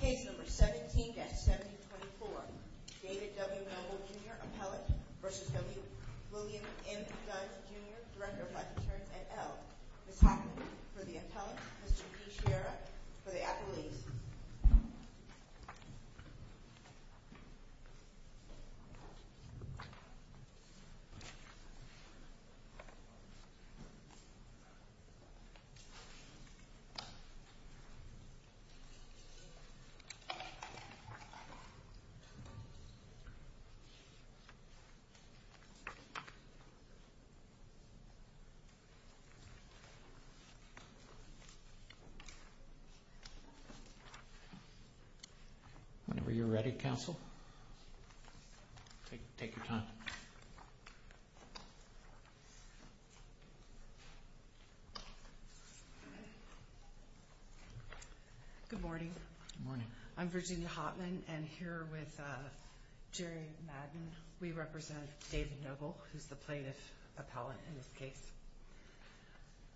Case number 17-7024, David W. Noble, Jr., appellate v. W. William M. Dunn, Jr., director of life insurance at Elk. Ms. Hackman for the appellant, Mr. P. Shira for the appellees. Whenever you're ready, counsel. Take your time. Good morning. Good morning. I'm Virginia Hotman, and here with Jerry Madden, we represent David Noble, who's the plaintiff appellant in this case.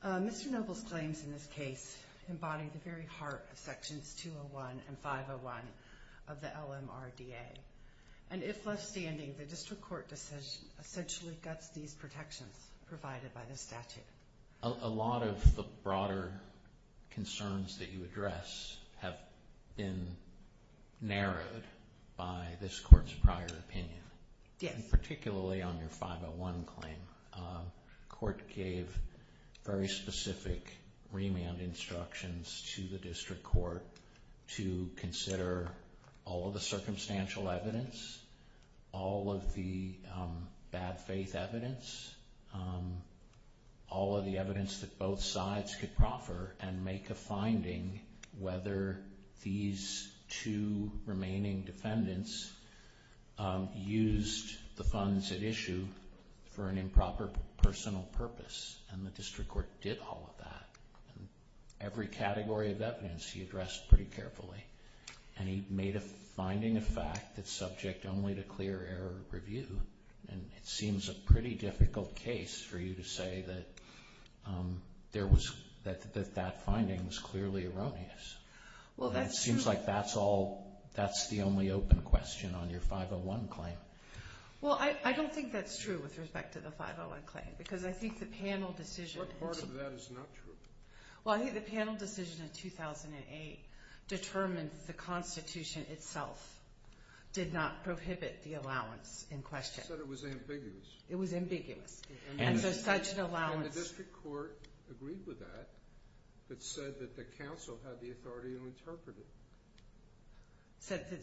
Mr. Noble's claims in this case embody the very heart of sections 201 and 501 of the LMRDA. And if left standing, the district court decision essentially guts these protections provided by the statute. A lot of the broader concerns that you address have been narrowed by this court's prior opinion. Yes. Particularly on your 501 claim. Court gave very specific remand instructions to the district court to consider all of the circumstantial evidence, all of the bad faith evidence, all of the evidence that both sides could proffer, and make a finding whether these two remaining defendants used the funds at issue for an improper personal purpose. And the district court did all of that. Every category of evidence he addressed pretty carefully. And he made a finding of fact that's subject only to clear error review. And it seems a pretty difficult case for you to say that that finding was clearly erroneous. Well, that's true. And it seems like that's the only open question on your 501 claim. Well, I don't think that's true with respect to the 501 claim, because I think the panel decision... What part of that is not true? Well, I think the panel decision in 2008 determined the Constitution itself did not prohibit the allowance in question. It said it was ambiguous. It was ambiguous. And so such an allowance... And the district court agreed with that. It said that the council had the authority to interpret it. It said that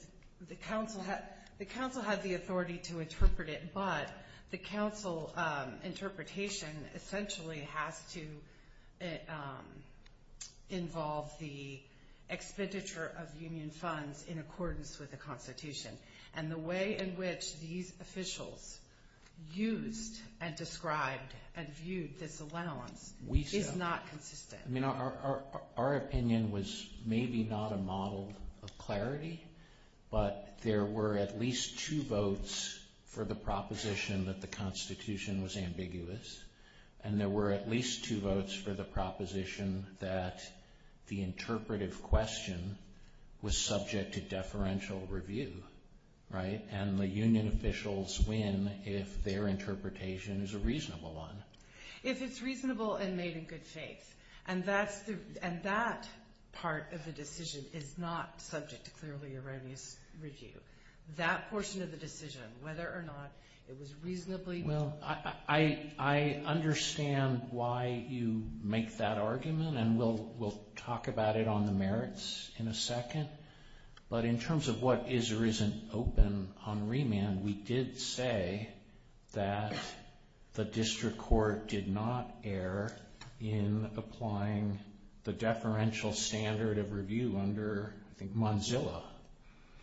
the council had the authority to interpret it, but the council interpretation essentially has to involve the expenditure of union funds in accordance with the Constitution. And the way in which these officials used and described and viewed this allowance is not consistent. Our opinion was maybe not a model of clarity, but there were at least two votes for the proposition that the Constitution was ambiguous, and there were at least two votes for the proposition that the interpretive question was subject to deferential review. And the union officials win if their interpretation is a reasonable one. If it's reasonable and made in good faith. And that part of the decision is not subject to clearly erroneous review. That portion of the decision, whether or not it was reasonably... Well, I understand why you make that argument, and we'll talk about it on the merits in a second. But in terms of what is or isn't open on remand, we did say that the district court did not err in applying the deferential standard of review under, I think, Mozilla.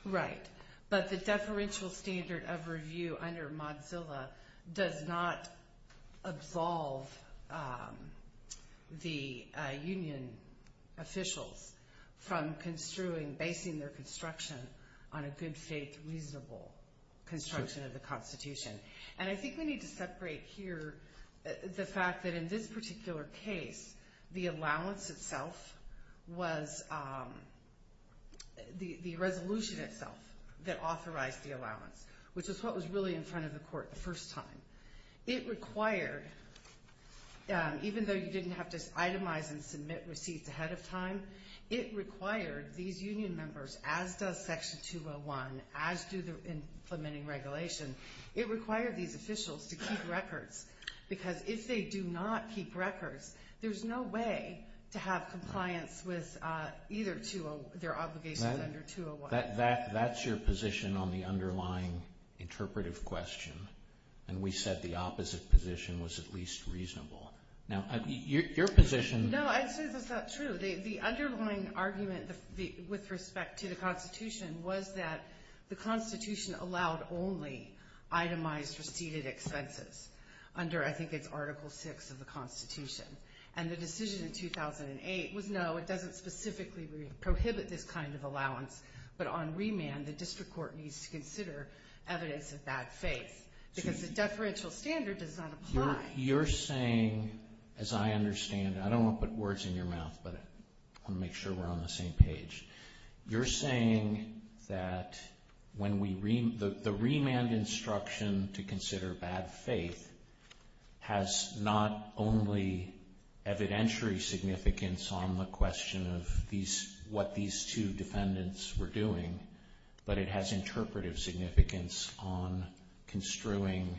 Right. But the deferential standard of review under Mozilla does not absolve the union officials from basing their construction on a good faith, reasonable construction of the Constitution. And I think we need to separate here the fact that in this particular case, the allowance itself was the resolution itself that authorized the allowance, which is what was really in front of the court the first time. It required, even though you didn't have to itemize and submit receipts ahead of time, it required these union members, as does Section 201, as do the implementing regulation, it required these officials to keep records. Because if they do not keep records, there's no way to have compliance with either their obligations under 201. That's your position on the underlying interpretive question. And we said the opposite position was at least reasonable. No, I'd say that's not true. The underlying argument with respect to the Constitution was that the Constitution allowed only itemized receipted expenses under, I think it's Article VI of the Constitution. And the decision in 2008 was no, it doesn't specifically prohibit this kind of allowance. But on remand, the district court needs to consider evidence of bad faith. Because the deferential standard does not apply. You're saying, as I understand, I don't want to put words in your mouth, but I want to make sure we're on the same page. You're saying that the remand instruction to consider bad faith has not only evidentiary significance on the question of what these two defendants were doing, but it has interpretive significance on construing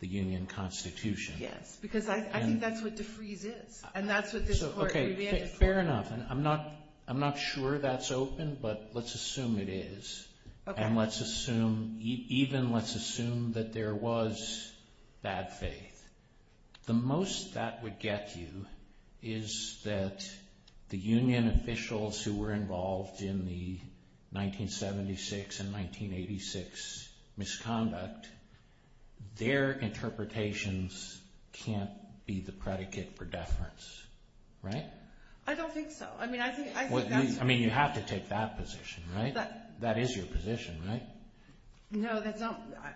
the Union Constitution. Yes, because I think that's what defreeze is. And that's what this court revamped. Fair enough. And I'm not sure that's open, but let's assume it is. And let's assume, even let's assume that there was bad faith. The most that would get you is that the Union officials who were involved in the 1976 and 1986 misconduct, their interpretations can't be the predicate for deference, right? I don't think so. I mean, you have to take that position, right? That is your position, right? No,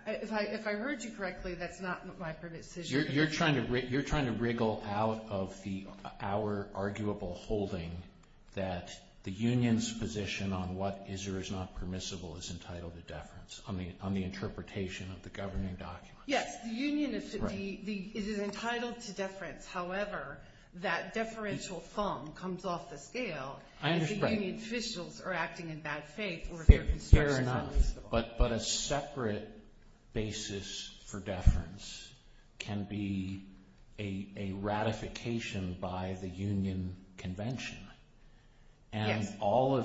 if I heard you correctly, that's not my position. You're trying to wriggle out of our arguable holding that the Union's position on what is or is not permissible is entitled to deference on the interpretation of the governing documents. Yes, the Union is entitled to deference. However, that deferential thumb comes off the scale. I understand. But a separate basis for deference can be a ratification by the Union Convention. Yes. All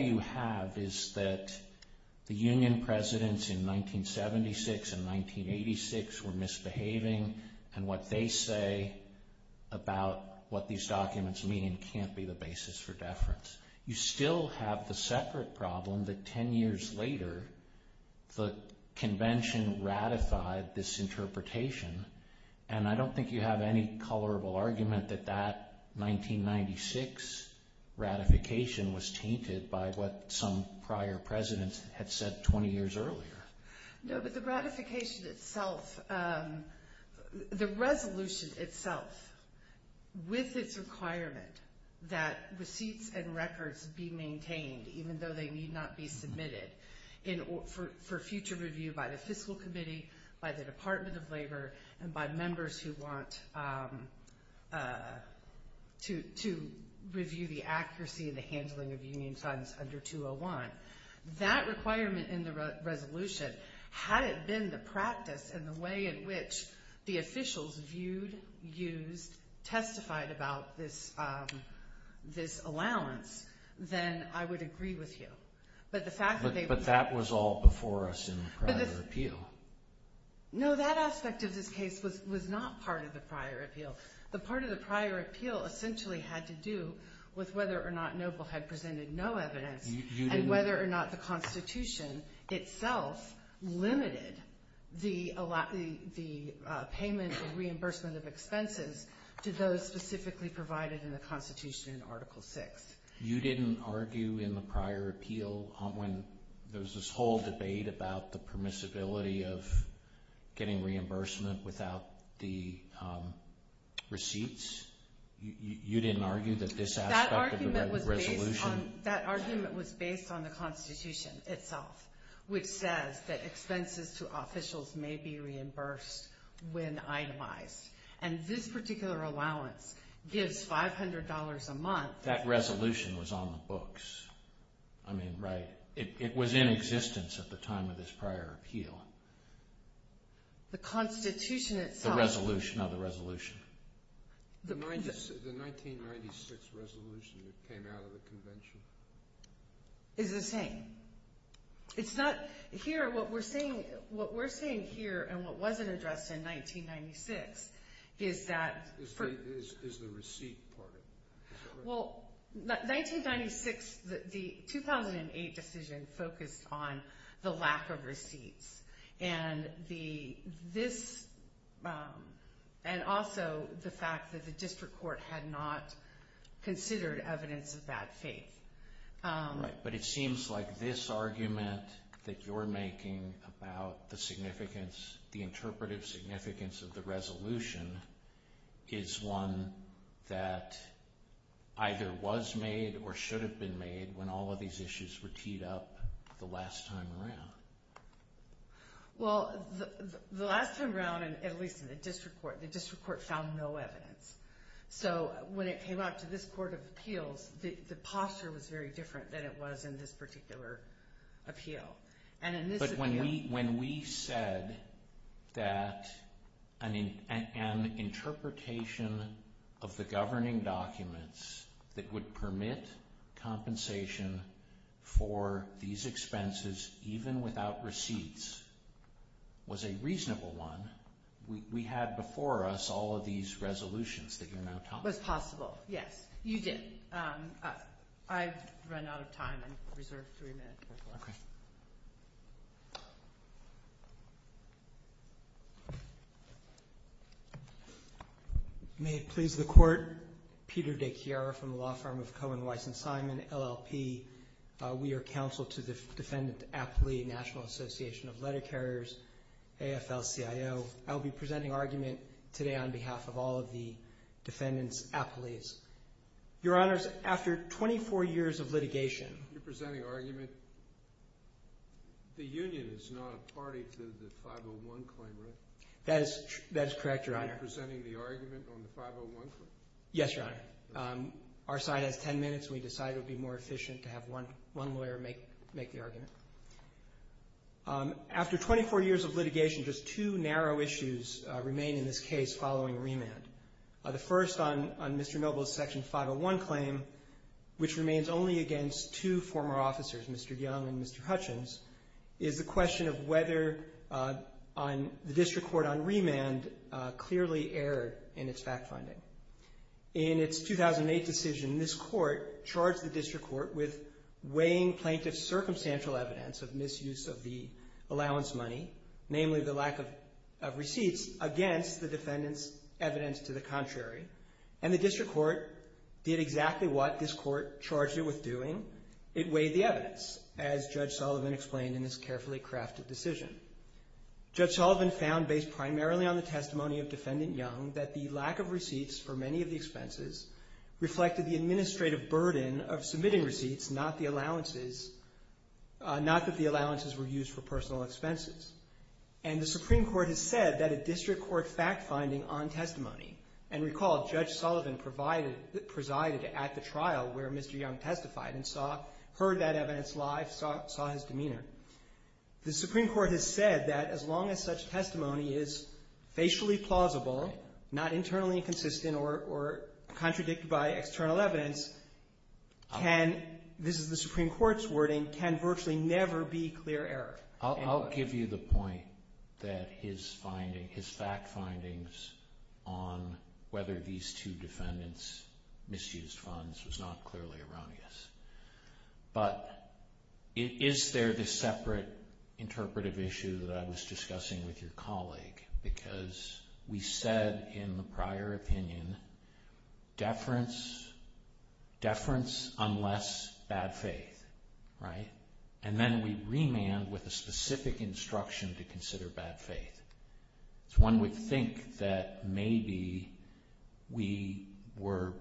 you have is that the Union presidents in 1976 and 1986 were misbehaving, and what they say about what these documents mean can't be the basis for deference. You still have the separate problem that 10 years later, the convention ratified this interpretation. And I don't think you have any colorable argument that that 1996 ratification was tainted by what some prior presidents had said 20 years earlier. No, but the ratification itself, the resolution itself, with its requirement that receipts and records be maintained, even though they need not be submitted, for future review by the Fiscal Committee, by the Department of Labor, and by members who want to review the accuracy of the handling of Union funds under 201, that requirement in the resolution, had it been the practice and the way in which the officials viewed, used, testified about this allowance, then I would agree with you. But that was all before us in the prior appeal. No, that aspect of this case was not part of the prior appeal. The part of the prior appeal essentially had to do with whether or not Noble had presented no evidence. And whether or not the Constitution itself limited the payment of reimbursement of expenses to those specifically provided in the Constitution in Article VI. You didn't argue in the prior appeal when there was this whole debate about the permissibility of getting reimbursement without the receipts? You didn't argue that this aspect of the resolution... That argument was based on the Constitution itself, which says that expenses to officials may be reimbursed when itemized. And this particular allowance gives $500 a month... That resolution was on the books. I mean, right? It was in existence at the time of this prior appeal. The Constitution itself... It's not a resolution of the resolution. The 1996 resolution that came out of the convention? It's the same. It's not... Here, what we're saying here and what wasn't addressed in 1996 is that... Is the receipt part of it? The 2008 decision focused on the lack of receipts. And also the fact that the district court had not considered evidence of that faith. Right. But it seems like this argument that you're making about the significance, the interpretive significance of the resolution, is one that either was made or should have been made when all of these issues were teed up the last time around. Well, the last time around, at least in the district court, the district court found no evidence. So when it came out to this court of appeals, the posture was very different than it was in this particular appeal. But when we said that an interpretation of the governing documents that would permit compensation for these expenses, even without receipts, was a reasonable one, we had before us all of these resolutions that you're now talking about. It was possible, yes. You did. I've run out of time. I'm reserved three minutes. Okay. May it please the Court, Peter DeChiara from the law firm of Cohen, Weiss, and Simon, LLP. We are counsel to the defendant, Apley, National Association of Letter Carriers, AFL-CIO. I will be presenting argument today on behalf of all of the defendants, Apley's. Your Honors, after 24 years of litigation. You're presenting argument. The union is not a party to the 501 claim, right? That is correct, Your Honor. You're presenting the argument on the 501 claim? Yes, Your Honor. Our side has 10 minutes, and we decided it would be more efficient to have one lawyer make the argument. After 24 years of litigation, just two narrow issues remain in this case following remand. The first on Mr. Noble's Section 501 claim, which remains only against two former officers, Mr. Young and Mr. Hutchins, is the question of whether the district court on remand clearly erred in its fact-finding. In its 2008 decision, this court charged the district court with weighing plaintiff's circumstantial evidence of misuse of the allowance money, namely the lack of receipts, against the defendant's evidence to the contrary. And the district court did exactly what this court charged it with doing. It weighed the evidence, as Judge Sullivan explained in this carefully crafted decision. Judge Sullivan found, based primarily on the testimony of Defendant Young, that the lack of receipts for many of the expenses reflected the administrative burden of submitting receipts, not that the allowances were used for personal expenses. And the Supreme Court has said that a district court fact-finding on testimony, and recall Judge Sullivan presided at the trial where Mr. Young testified and heard that evidence live, saw his demeanor. The Supreme Court has said that as long as such testimony is facially plausible, not internally inconsistent or contradicted by external evidence, can, this is the Supreme Court's wording, can virtually never be clear error. I'll give you the point that his fact findings on whether these two defendants misused funds was not clearly erroneous. But is there this separate interpretive issue that I was discussing with your colleague? Because we said in the prior opinion, deference, deference unless bad faith, right? And then we remand with a specific instruction to consider bad faith. So one would think that maybe we were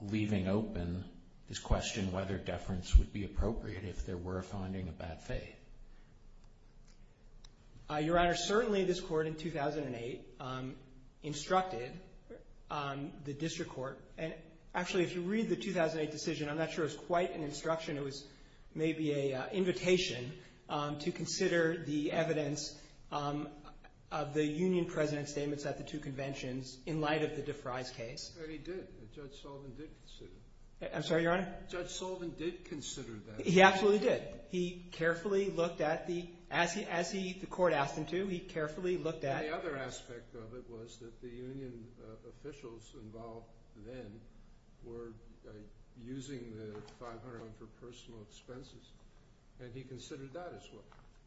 leaving open this question whether deference would be appropriate if there were a finding of bad faith. Your Honor, certainly this court in 2008 instructed the district court, and actually if you read the 2008 decision, I'm not sure it was quite an instruction. It was maybe an invitation to consider the evidence of the union president's statements at the two conventions in light of the DeFries case. But he did. Judge Sullivan did consider that. I'm sorry, Your Honor? Judge Sullivan did consider that. He absolutely did. He carefully looked at the – as the court asked him to, he carefully looked at – And the other aspect of it was that the union officials involved then were using the 500 for personal expenses. Had he considered that as well?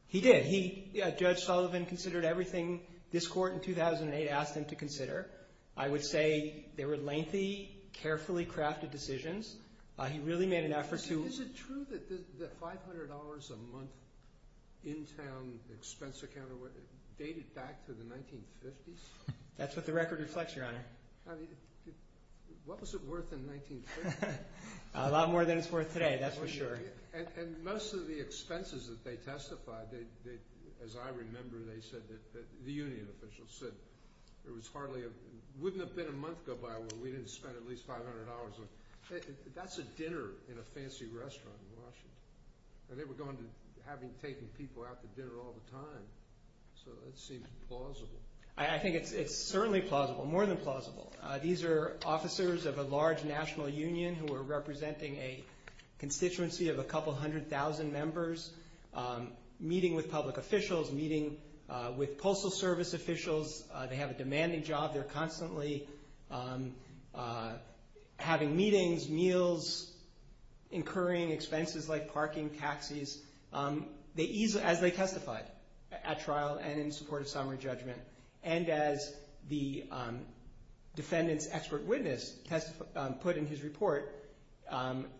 He did. Judge Sullivan considered everything this court in 2008 asked him to consider. I would say they were lengthy, carefully crafted decisions. He really made an effort to – Is it true that the $500 a month in-town expense account dated back to the 1950s? That's what the record reflects, Your Honor. What was it worth in 1950? A lot more than it's worth today. That's for sure. And most of the expenses that they testified, as I remember, they said that – the union officials said it was hardly – we didn't spend at least $500 on – that's a dinner in a fancy restaurant in Washington. And they were going to – having taken people out to dinner all the time. So that seems plausible. I think it's certainly plausible, more than plausible. These are officers of a large national union who are representing a constituency of a couple hundred thousand members, meeting with public officials, meeting with Postal Service officials. They have a demanding job. They're constantly having meetings, meals, incurring expenses like parking, taxis. As they testified at trial and in support of summary judgment, and as the defendant's expert witness put in his report,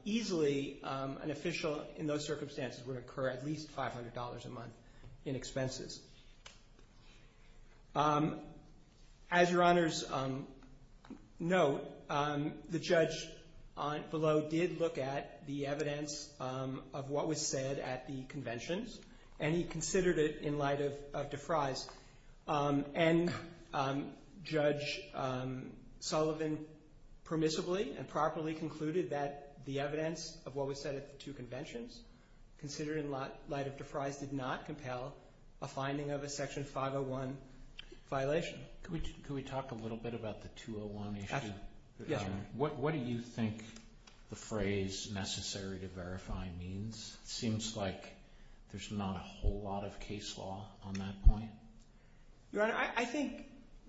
easily an official in those circumstances would incur at least $500 a month in expenses. As Your Honor's note, the judge below did look at the evidence of what was said at the conventions, and he considered it in light of Defries. And Judge Sullivan permissibly and properly concluded that the evidence of what was said at the two conventions, considered in light of Defries, did not compel a finding of a Section 501 violation. Could we talk a little bit about the 201 issue? Yeah. What do you think the phrase necessary to verify means? It seems like there's not a whole lot of case law on that point. Your Honor, I think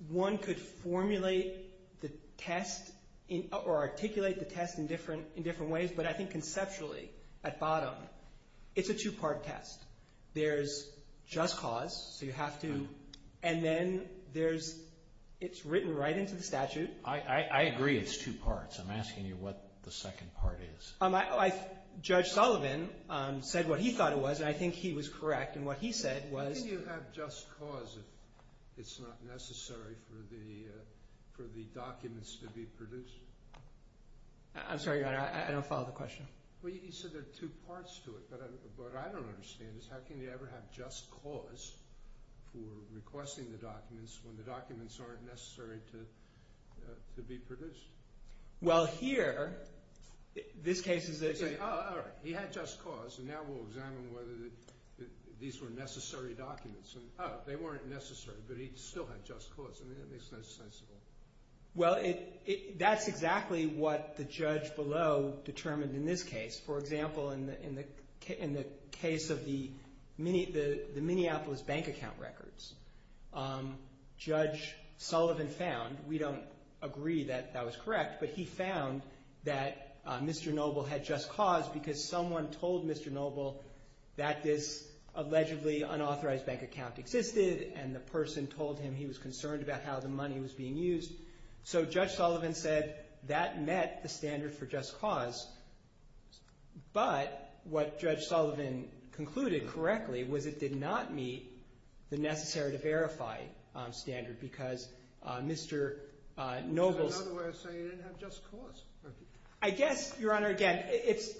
one could formulate the test or articulate the test in different ways, but I think conceptually, at bottom, it's a two-part test. There's just cause, so you have to, and then it's written right into the statute. I agree it's two parts. I'm asking you what the second part is. Judge Sullivan said what he thought it was, and I think he was correct, and what he said was. How can you have just cause if it's not necessary for the documents to be produced? I'm sorry, Your Honor. I don't follow the question. Well, you said there are two parts to it, but what I don't understand is how can you ever have just cause for requesting the documents when the documents aren't necessary to be produced? Well, here, this case is saying, oh, all right, he had just cause, and now we'll examine whether these were necessary documents. Oh, they weren't necessary, but he still had just cause. I mean, that makes no sense at all. Well, that's exactly what the judge below determined in this case. For example, in the case of the Minneapolis bank account records, Judge Sullivan found, we don't agree that that was correct, but he found that Mr. Noble had just cause because someone told Mr. Noble that this allegedly unauthorized bank account existed, and the person told him he was concerned about how the money was being used. So Judge Sullivan said that met the standard for just cause, but what Judge Sullivan concluded correctly was it did not meet the necessary to verify standard because Mr. Noble's – In other words, so you didn't have just cause. I guess, Your Honor, again,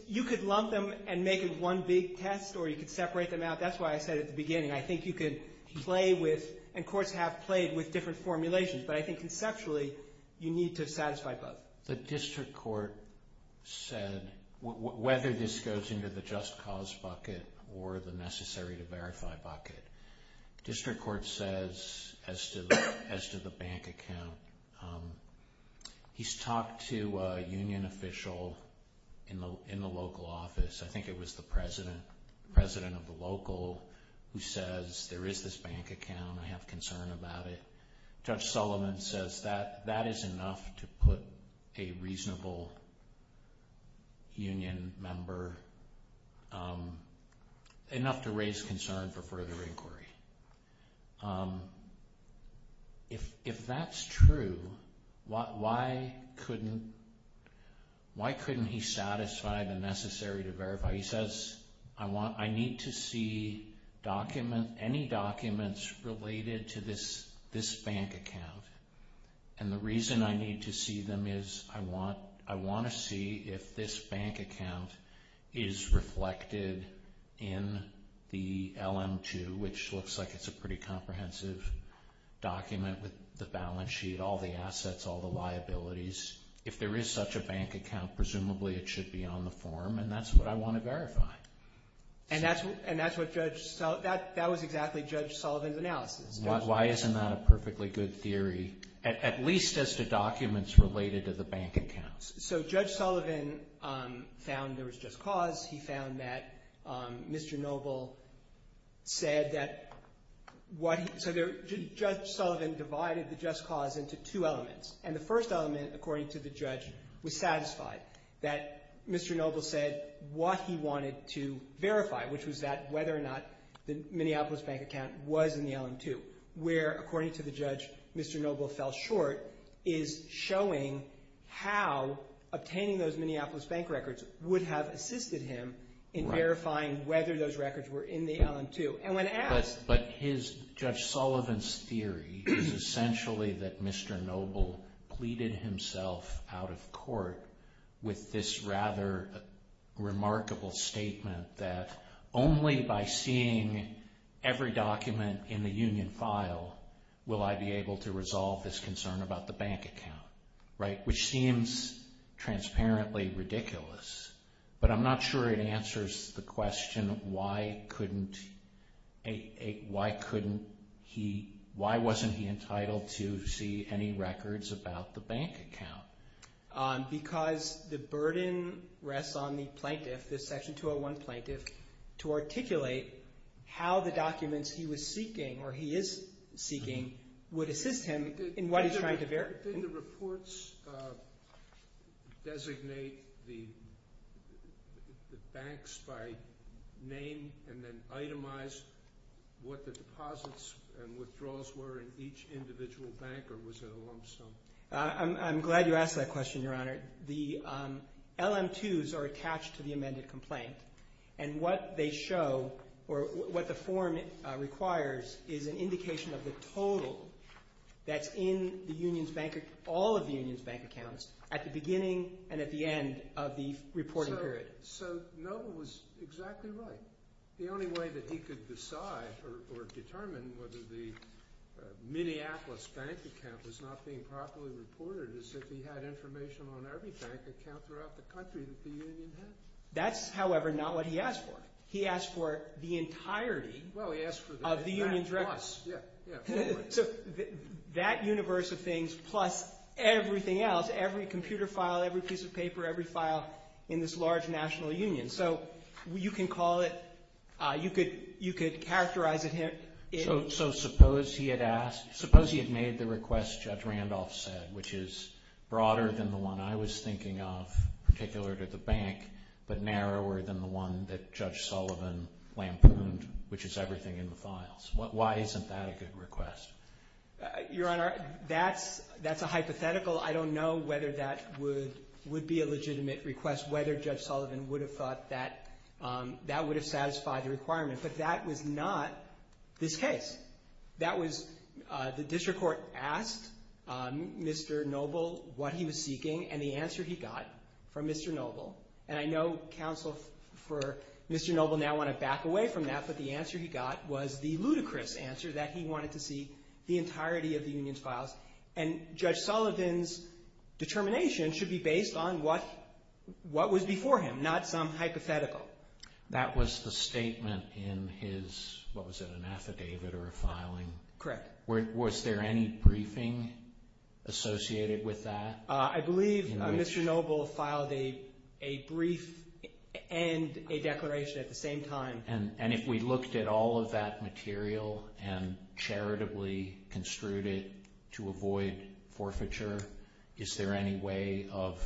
you could lump them and make it one big test, or you could separate them out. That's why I said at the beginning, I think you could play with – and courts have played with different formulations, but I think conceptually you need to satisfy both. The district court said whether this goes into the just cause bucket or the necessary to verify bucket, district court says as to the bank account, he's talked to a union official in the local office. I think it was the president of the local who says there is this bank account. I have concern about it. Judge Sullivan says that that is enough to put a reasonable union member – enough to raise concern for further inquiry. If that's true, why couldn't he satisfy the necessary to verify? He says I need to see any documents related to this bank account, and the reason I need to see them is I want to see if this bank account is reflected in the LM-2, which looks like it's a pretty comprehensive document with the balance sheet, all the assets, all the liabilities. If there is such a bank account, presumably it should be on the form, and that's what I want to verify. And that's what Judge – that was exactly Judge Sullivan's analysis. Why isn't that a perfectly good theory, at least as to documents related to the bank accounts? So Judge Sullivan found there was just cause. He found that Mr. Noble said that what he – so Judge Sullivan divided the just cause into two elements, and the first element, according to the judge, was satisfied, that Mr. Noble said what he wanted to verify, which was that whether or not the Minneapolis bank account was in the LM-2, where, according to the judge, Mr. Noble fell short, is showing how obtaining those Minneapolis bank records would have assisted him in verifying whether those records were in the LM-2. And when asked – But his – Judge Sullivan's theory is essentially that Mr. Noble pleaded himself out of court with this rather remarkable statement that only by seeing every document in the union file will I be able to resolve this concern about the bank account, right, which seems transparently ridiculous. But I'm not sure it answers the question why couldn't – why couldn't he – why wasn't he entitled to see any records about the bank account? Because the burden rests on the plaintiff, the Section 201 plaintiff, to articulate how the documents he was seeking or he is seeking would assist him in what he's trying to verify. Did the reports designate the banks by name and then itemize what the deposits and withdrawals were in each individual bank or was it a lump sum? I'm glad you asked that question, Your Honor. The LM-2s are attached to the amended complaint and what they show or what the form requires is an indication of the total that's in the union's bank – all of the union's bank accounts at the beginning and at the end of the reporting period. So Noble was exactly right. The only way that he could decide or determine whether the Minneapolis bank account was not being properly reported is if he had information on every bank account throughout the country that the union had. That's, however, not what he asked for. He asked for the entirety of the union's records. Well, he asked for that plus, yeah, yeah. So that universe of things plus everything else, every computer file, every piece of paper, every file in this large national union. So you can call it – you could characterize it – So suppose he had asked – suppose he had made the request Judge Randolph said, which is broader than the one I was thinking of, particular to the bank, but narrower than the one that Judge Sullivan lampooned, which is everything in the files. Why isn't that a good request? Your Honor, that's a hypothetical. I don't know whether that would be a legitimate request, whether Judge Sullivan would have thought that that would have satisfied the requirement. But that was not this case. That was – the district court asked Mr. Noble what he was seeking and the answer he got from Mr. Noble. And I know counsel for Mr. Noble now want to back away from that, but the answer he got was the ludicrous answer that he wanted to see the entirety of the union's files. And Judge Sullivan's determination should be based on what was before him, not some hypothetical. That was the statement in his – what was it, an affidavit or a filing? Correct. Was there any briefing associated with that? I believe Mr. Noble filed a brief and a declaration at the same time. And if we looked at all of that material and charitably construed it to avoid forfeiture, is there any way of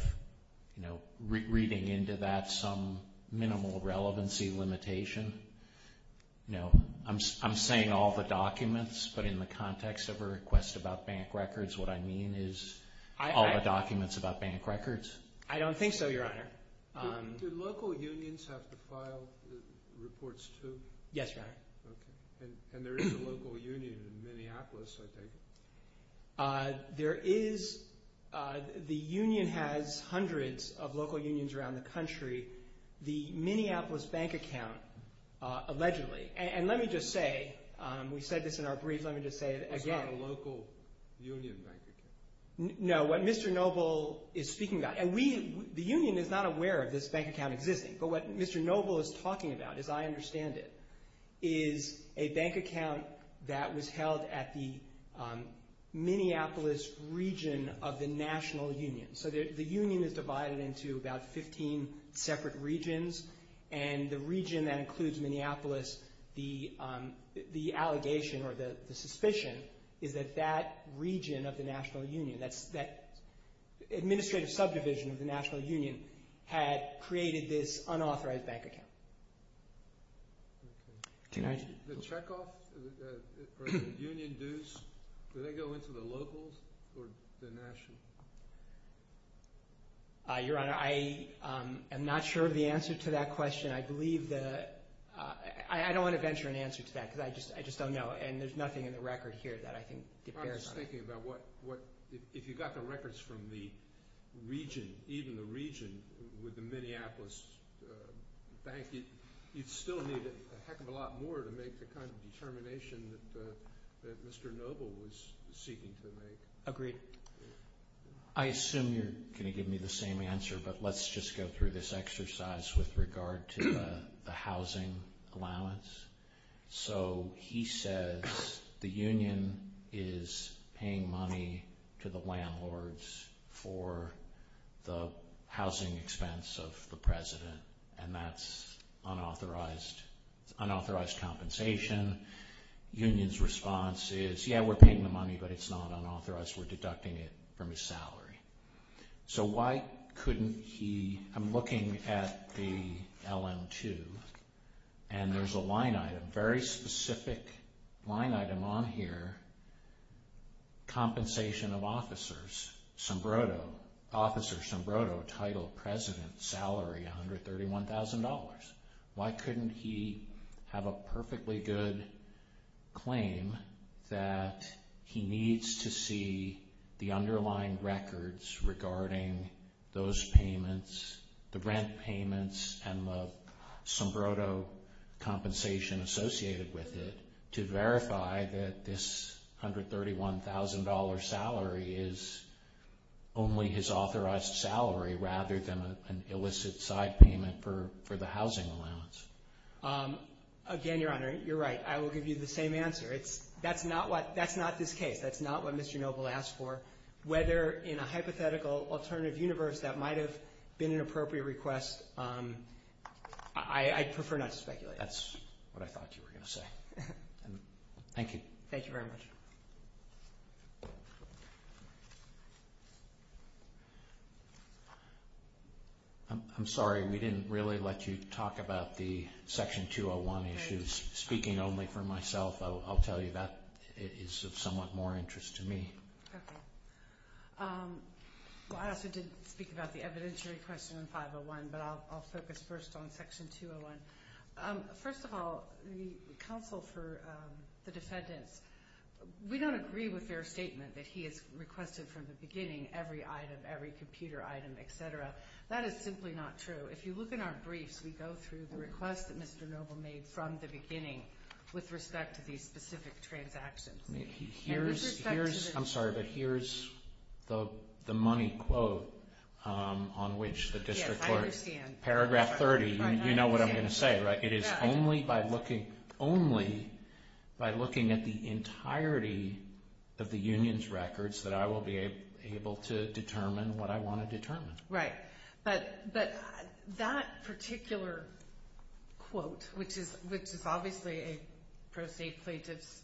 reading into that some minimal relevancy limitation? I'm saying all the documents, but in the context of a request about bank records, what I mean is all the documents about bank records. I don't think so, Your Honor. Do local unions have to file reports too? Yes, Your Honor. Okay. And there is a local union in Minneapolis, I think. There is – the union has hundreds of local unions around the country. The Minneapolis bank account allegedly – and let me just say, we said this in our brief, let me just say it again. It's not a local union bank account. No, what Mr. Noble is speaking about – and we – the union is not aware of this bank account existing, but what Mr. Noble is talking about, as I understand it, is a bank account that was held at the Minneapolis region of the national union. So the union is divided into about 15 separate regions, and the region that includes Minneapolis, the allegation or the suspicion is that that region of the national union, that administrative subdivision of the national union, had created this unauthorized bank account. The checkoff or the union dues, do they go into the locals or the national? Your Honor, I am not sure of the answer to that question. I believe the – I don't want to venture an answer to that because I just don't know, and there's nothing in the record here that I think depairs on it. I'm just thinking about what – if you got the records from the region, even the region with the Minneapolis bank, you'd still need a heck of a lot more to make the kind of determination that Mr. Noble was seeking to make. Agreed. I assume you're going to give me the same answer, but let's just go through this exercise with regard to the housing allowance. So he says the union is paying money to the landlords for the housing expense of the president, and that's unauthorized compensation. Union's response is, yeah, we're paying the money, but it's not unauthorized. We're deducting it from his salary. So why couldn't he – I'm looking at the LM-2, and there's a line item, very specific line item on here, compensation of officers, sombroto, officer sombroto, title, president, salary, $131,000. Why couldn't he have a perfectly good claim that he needs to see the underlying records regarding those payments, the rent payments, and the sombroto compensation associated with it, to verify that this $131,000 salary is only his authorized salary rather than an illicit side payment for the housing allowance? Again, Your Honor, you're right. I will give you the same answer. That's not what – that's not this case. That's not what Mr. Noble asked for. Whether in a hypothetical alternative universe that might have been an appropriate request, I'd prefer not to speculate. But that's what I thought you were going to say. Thank you. Thank you very much. I'm sorry we didn't really let you talk about the Section 201 issues. Speaking only for myself, I'll tell you that is of somewhat more interest to me. Okay. I also did speak about the evidentiary question in 501, but I'll focus first on Section 201. First of all, the counsel for the defendants, we don't agree with their statement that he has requested from the beginning every item, every computer item, et cetera. That is simply not true. If you look in our briefs, we go through the requests that Mr. Noble made from the beginning with respect to these specific transactions. Here's – I'm sorry, but here's the money quote on which the district court – Yes, I understand. Paragraph 30, you know what I'm going to say, right? It is only by looking – only by looking at the entirety of the union's records that I will be able to determine what I want to determine. Right. But that particular quote, which is obviously a pro se plaintiff's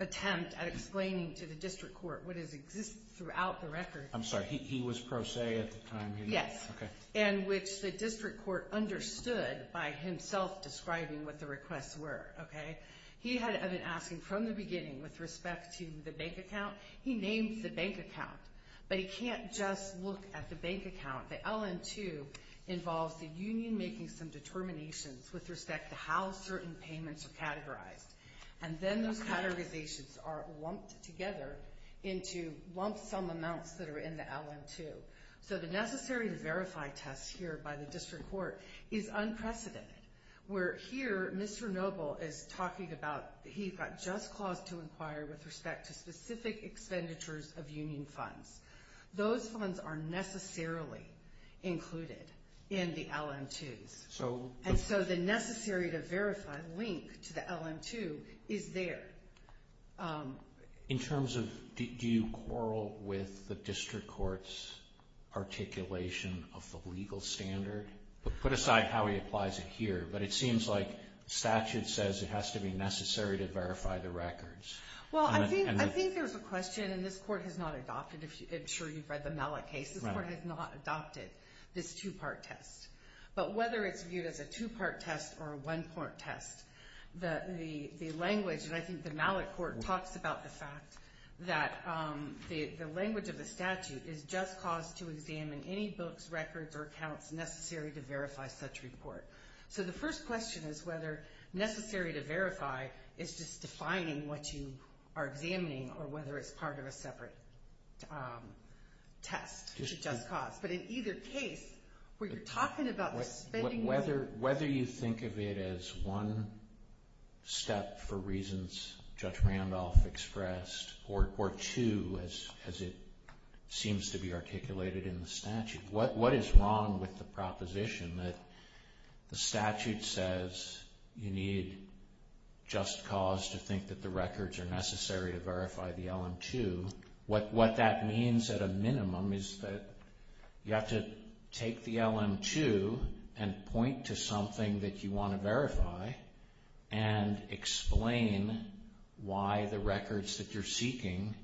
attempt at explaining to the district court what has existed throughout the record – I'm sorry. He was pro se at the time? Yes. Okay. And which the district court understood by himself describing what the requests were, okay? He had been asking from the beginning with respect to the bank account. He named the bank account, but he can't just look at the bank account. The LN2 involves the union making some determinations with respect to how certain payments are categorized. And then those categorizations are lumped together into lump sum amounts that are in the LN2. So the necessary to verify test here by the district court is unprecedented. Where here Mr. Noble is talking about he's got just cause to inquire with respect to specific expenditures of union funds. Those funds are necessarily included in the LN2s. And so the necessary to verify link to the LN2 is there. In terms of do you quarrel with the district court's articulation of the legal standard? Put aside how he applies it here, but it seems like statute says it has to be necessary to verify the records. Well, I think there's a question, and this court has not adopted it. I'm sure you've read the Malik case. This court has not adopted this two-part test. But whether it's viewed as a two-part test or a one-part test, the language – and I think the Malik court talks about the fact that the language of the statute is just cause to examine any books, records, or accounts necessary to verify such report. So the first question is whether necessary to verify is just defining what you are examining or whether it's part of a separate test to just cause. But in either case, what you're talking about is spending money. Whether you think of it as one step for reasons Judge Randolph expressed or two as it seems to be articulated in the statute. What is wrong with the proposition that the statute says you need just cause to think that the records are necessary to verify the LM-2? What that means at a minimum is that you have to take the LM-2 and point to something that you want to verify and explain why the records that you're seeking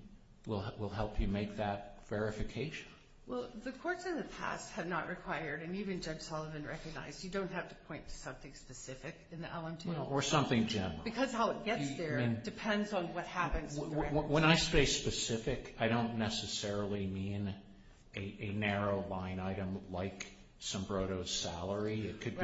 will help you make that verification. Well, the courts in the past have not required, and even Judge Sullivan recognized, you don't have to point to something specific in the LM-2. Or something general. When I say specific, I don't necessarily mean a narrow line item like Sombroto's salary. It could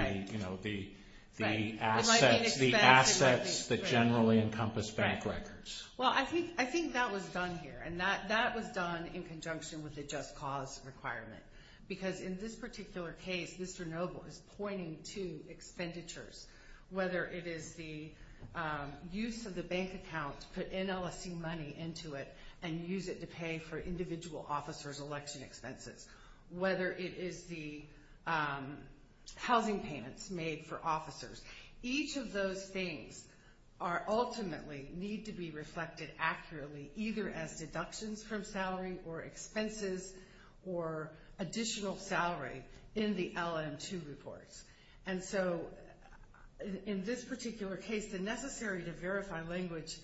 be the assets that generally encompass bank records. Well, I think that was done here. And that was done in conjunction with the just cause requirement. Because in this particular case, Mr. Noble is pointing to expenditures. Whether it is the use of the bank account to put NLSC money into it and use it to pay for individual officers' election expenses. Whether it is the housing payments made for officers. Each of those things ultimately need to be reflected accurately, either as deductions from salary or expenses or additional salary in the LM-2 reports. And so in this particular case, the necessity to verify language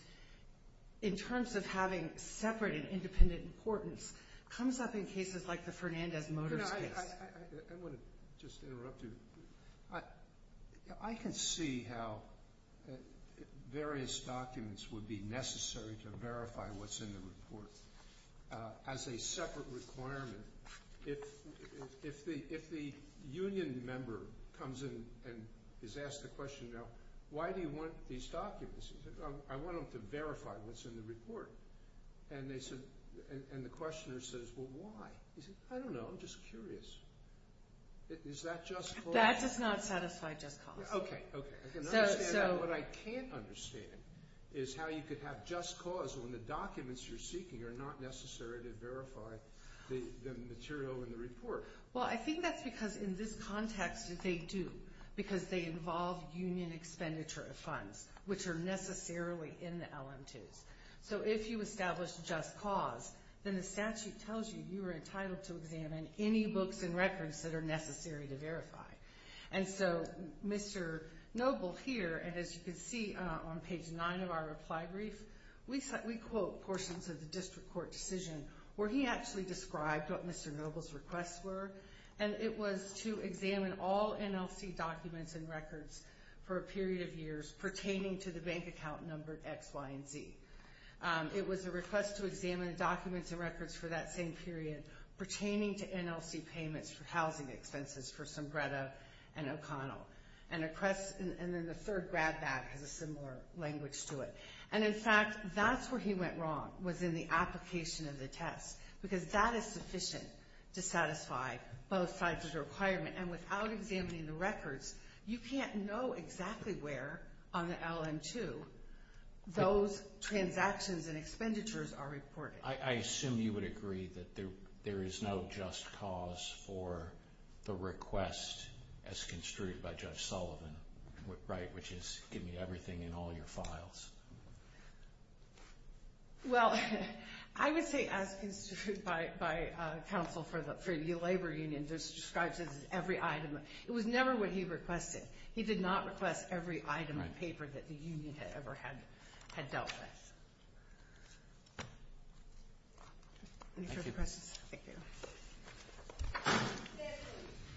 in terms of having separate and independent importance comes up in cases like the Fernandez-Motors case. I want to just interrupt you. I can see how various documents would be necessary to verify what's in the report. As a separate requirement, if the union member comes in and is asked the question, why do you want these documents? I want them to verify what's in the report. And the questioner says, well, why? He says, I don't know, I'm just curious. Is that just cause? That does not satisfy just cause. Okay, okay. I can understand that. But what I can't understand is how you could have just cause when the documents you're seeking are not necessary to verify the material in the report. Well, I think that's because in this context they do, because they involve union expenditure of funds, which are necessarily in the LM-2s. So if you establish just cause, then the statute tells you you are entitled to examine any books and records that are necessary to verify. And so Mr. Noble here, as you can see on page 9 of our reply brief, we quote portions of the district court decision where he actually described what Mr. Noble's requests were, and it was to examine all NLC documents and records for a period of years pertaining to the bank account number X, Y, and Z. It was a request to examine documents and records for that same period pertaining to NLC payments for housing expenses for Sombrero and O'Connell. And then the third grab bag has a similar language to it. And, in fact, that's where he went wrong was in the application of the test, because that is sufficient to satisfy both sides' requirement. And without examining the records, you can't know exactly where on the LM-2 those transactions and expenditures are reported. I assume you would agree that there is no just cause for the request as construed by Judge Sullivan, right, which is give me everything in all your files. Well, I would say as construed by counsel for the labor union, this describes it as every item. It was never what he requested. He did not request every item of paper that the union had ever had dealt with. Any further questions? Thank you.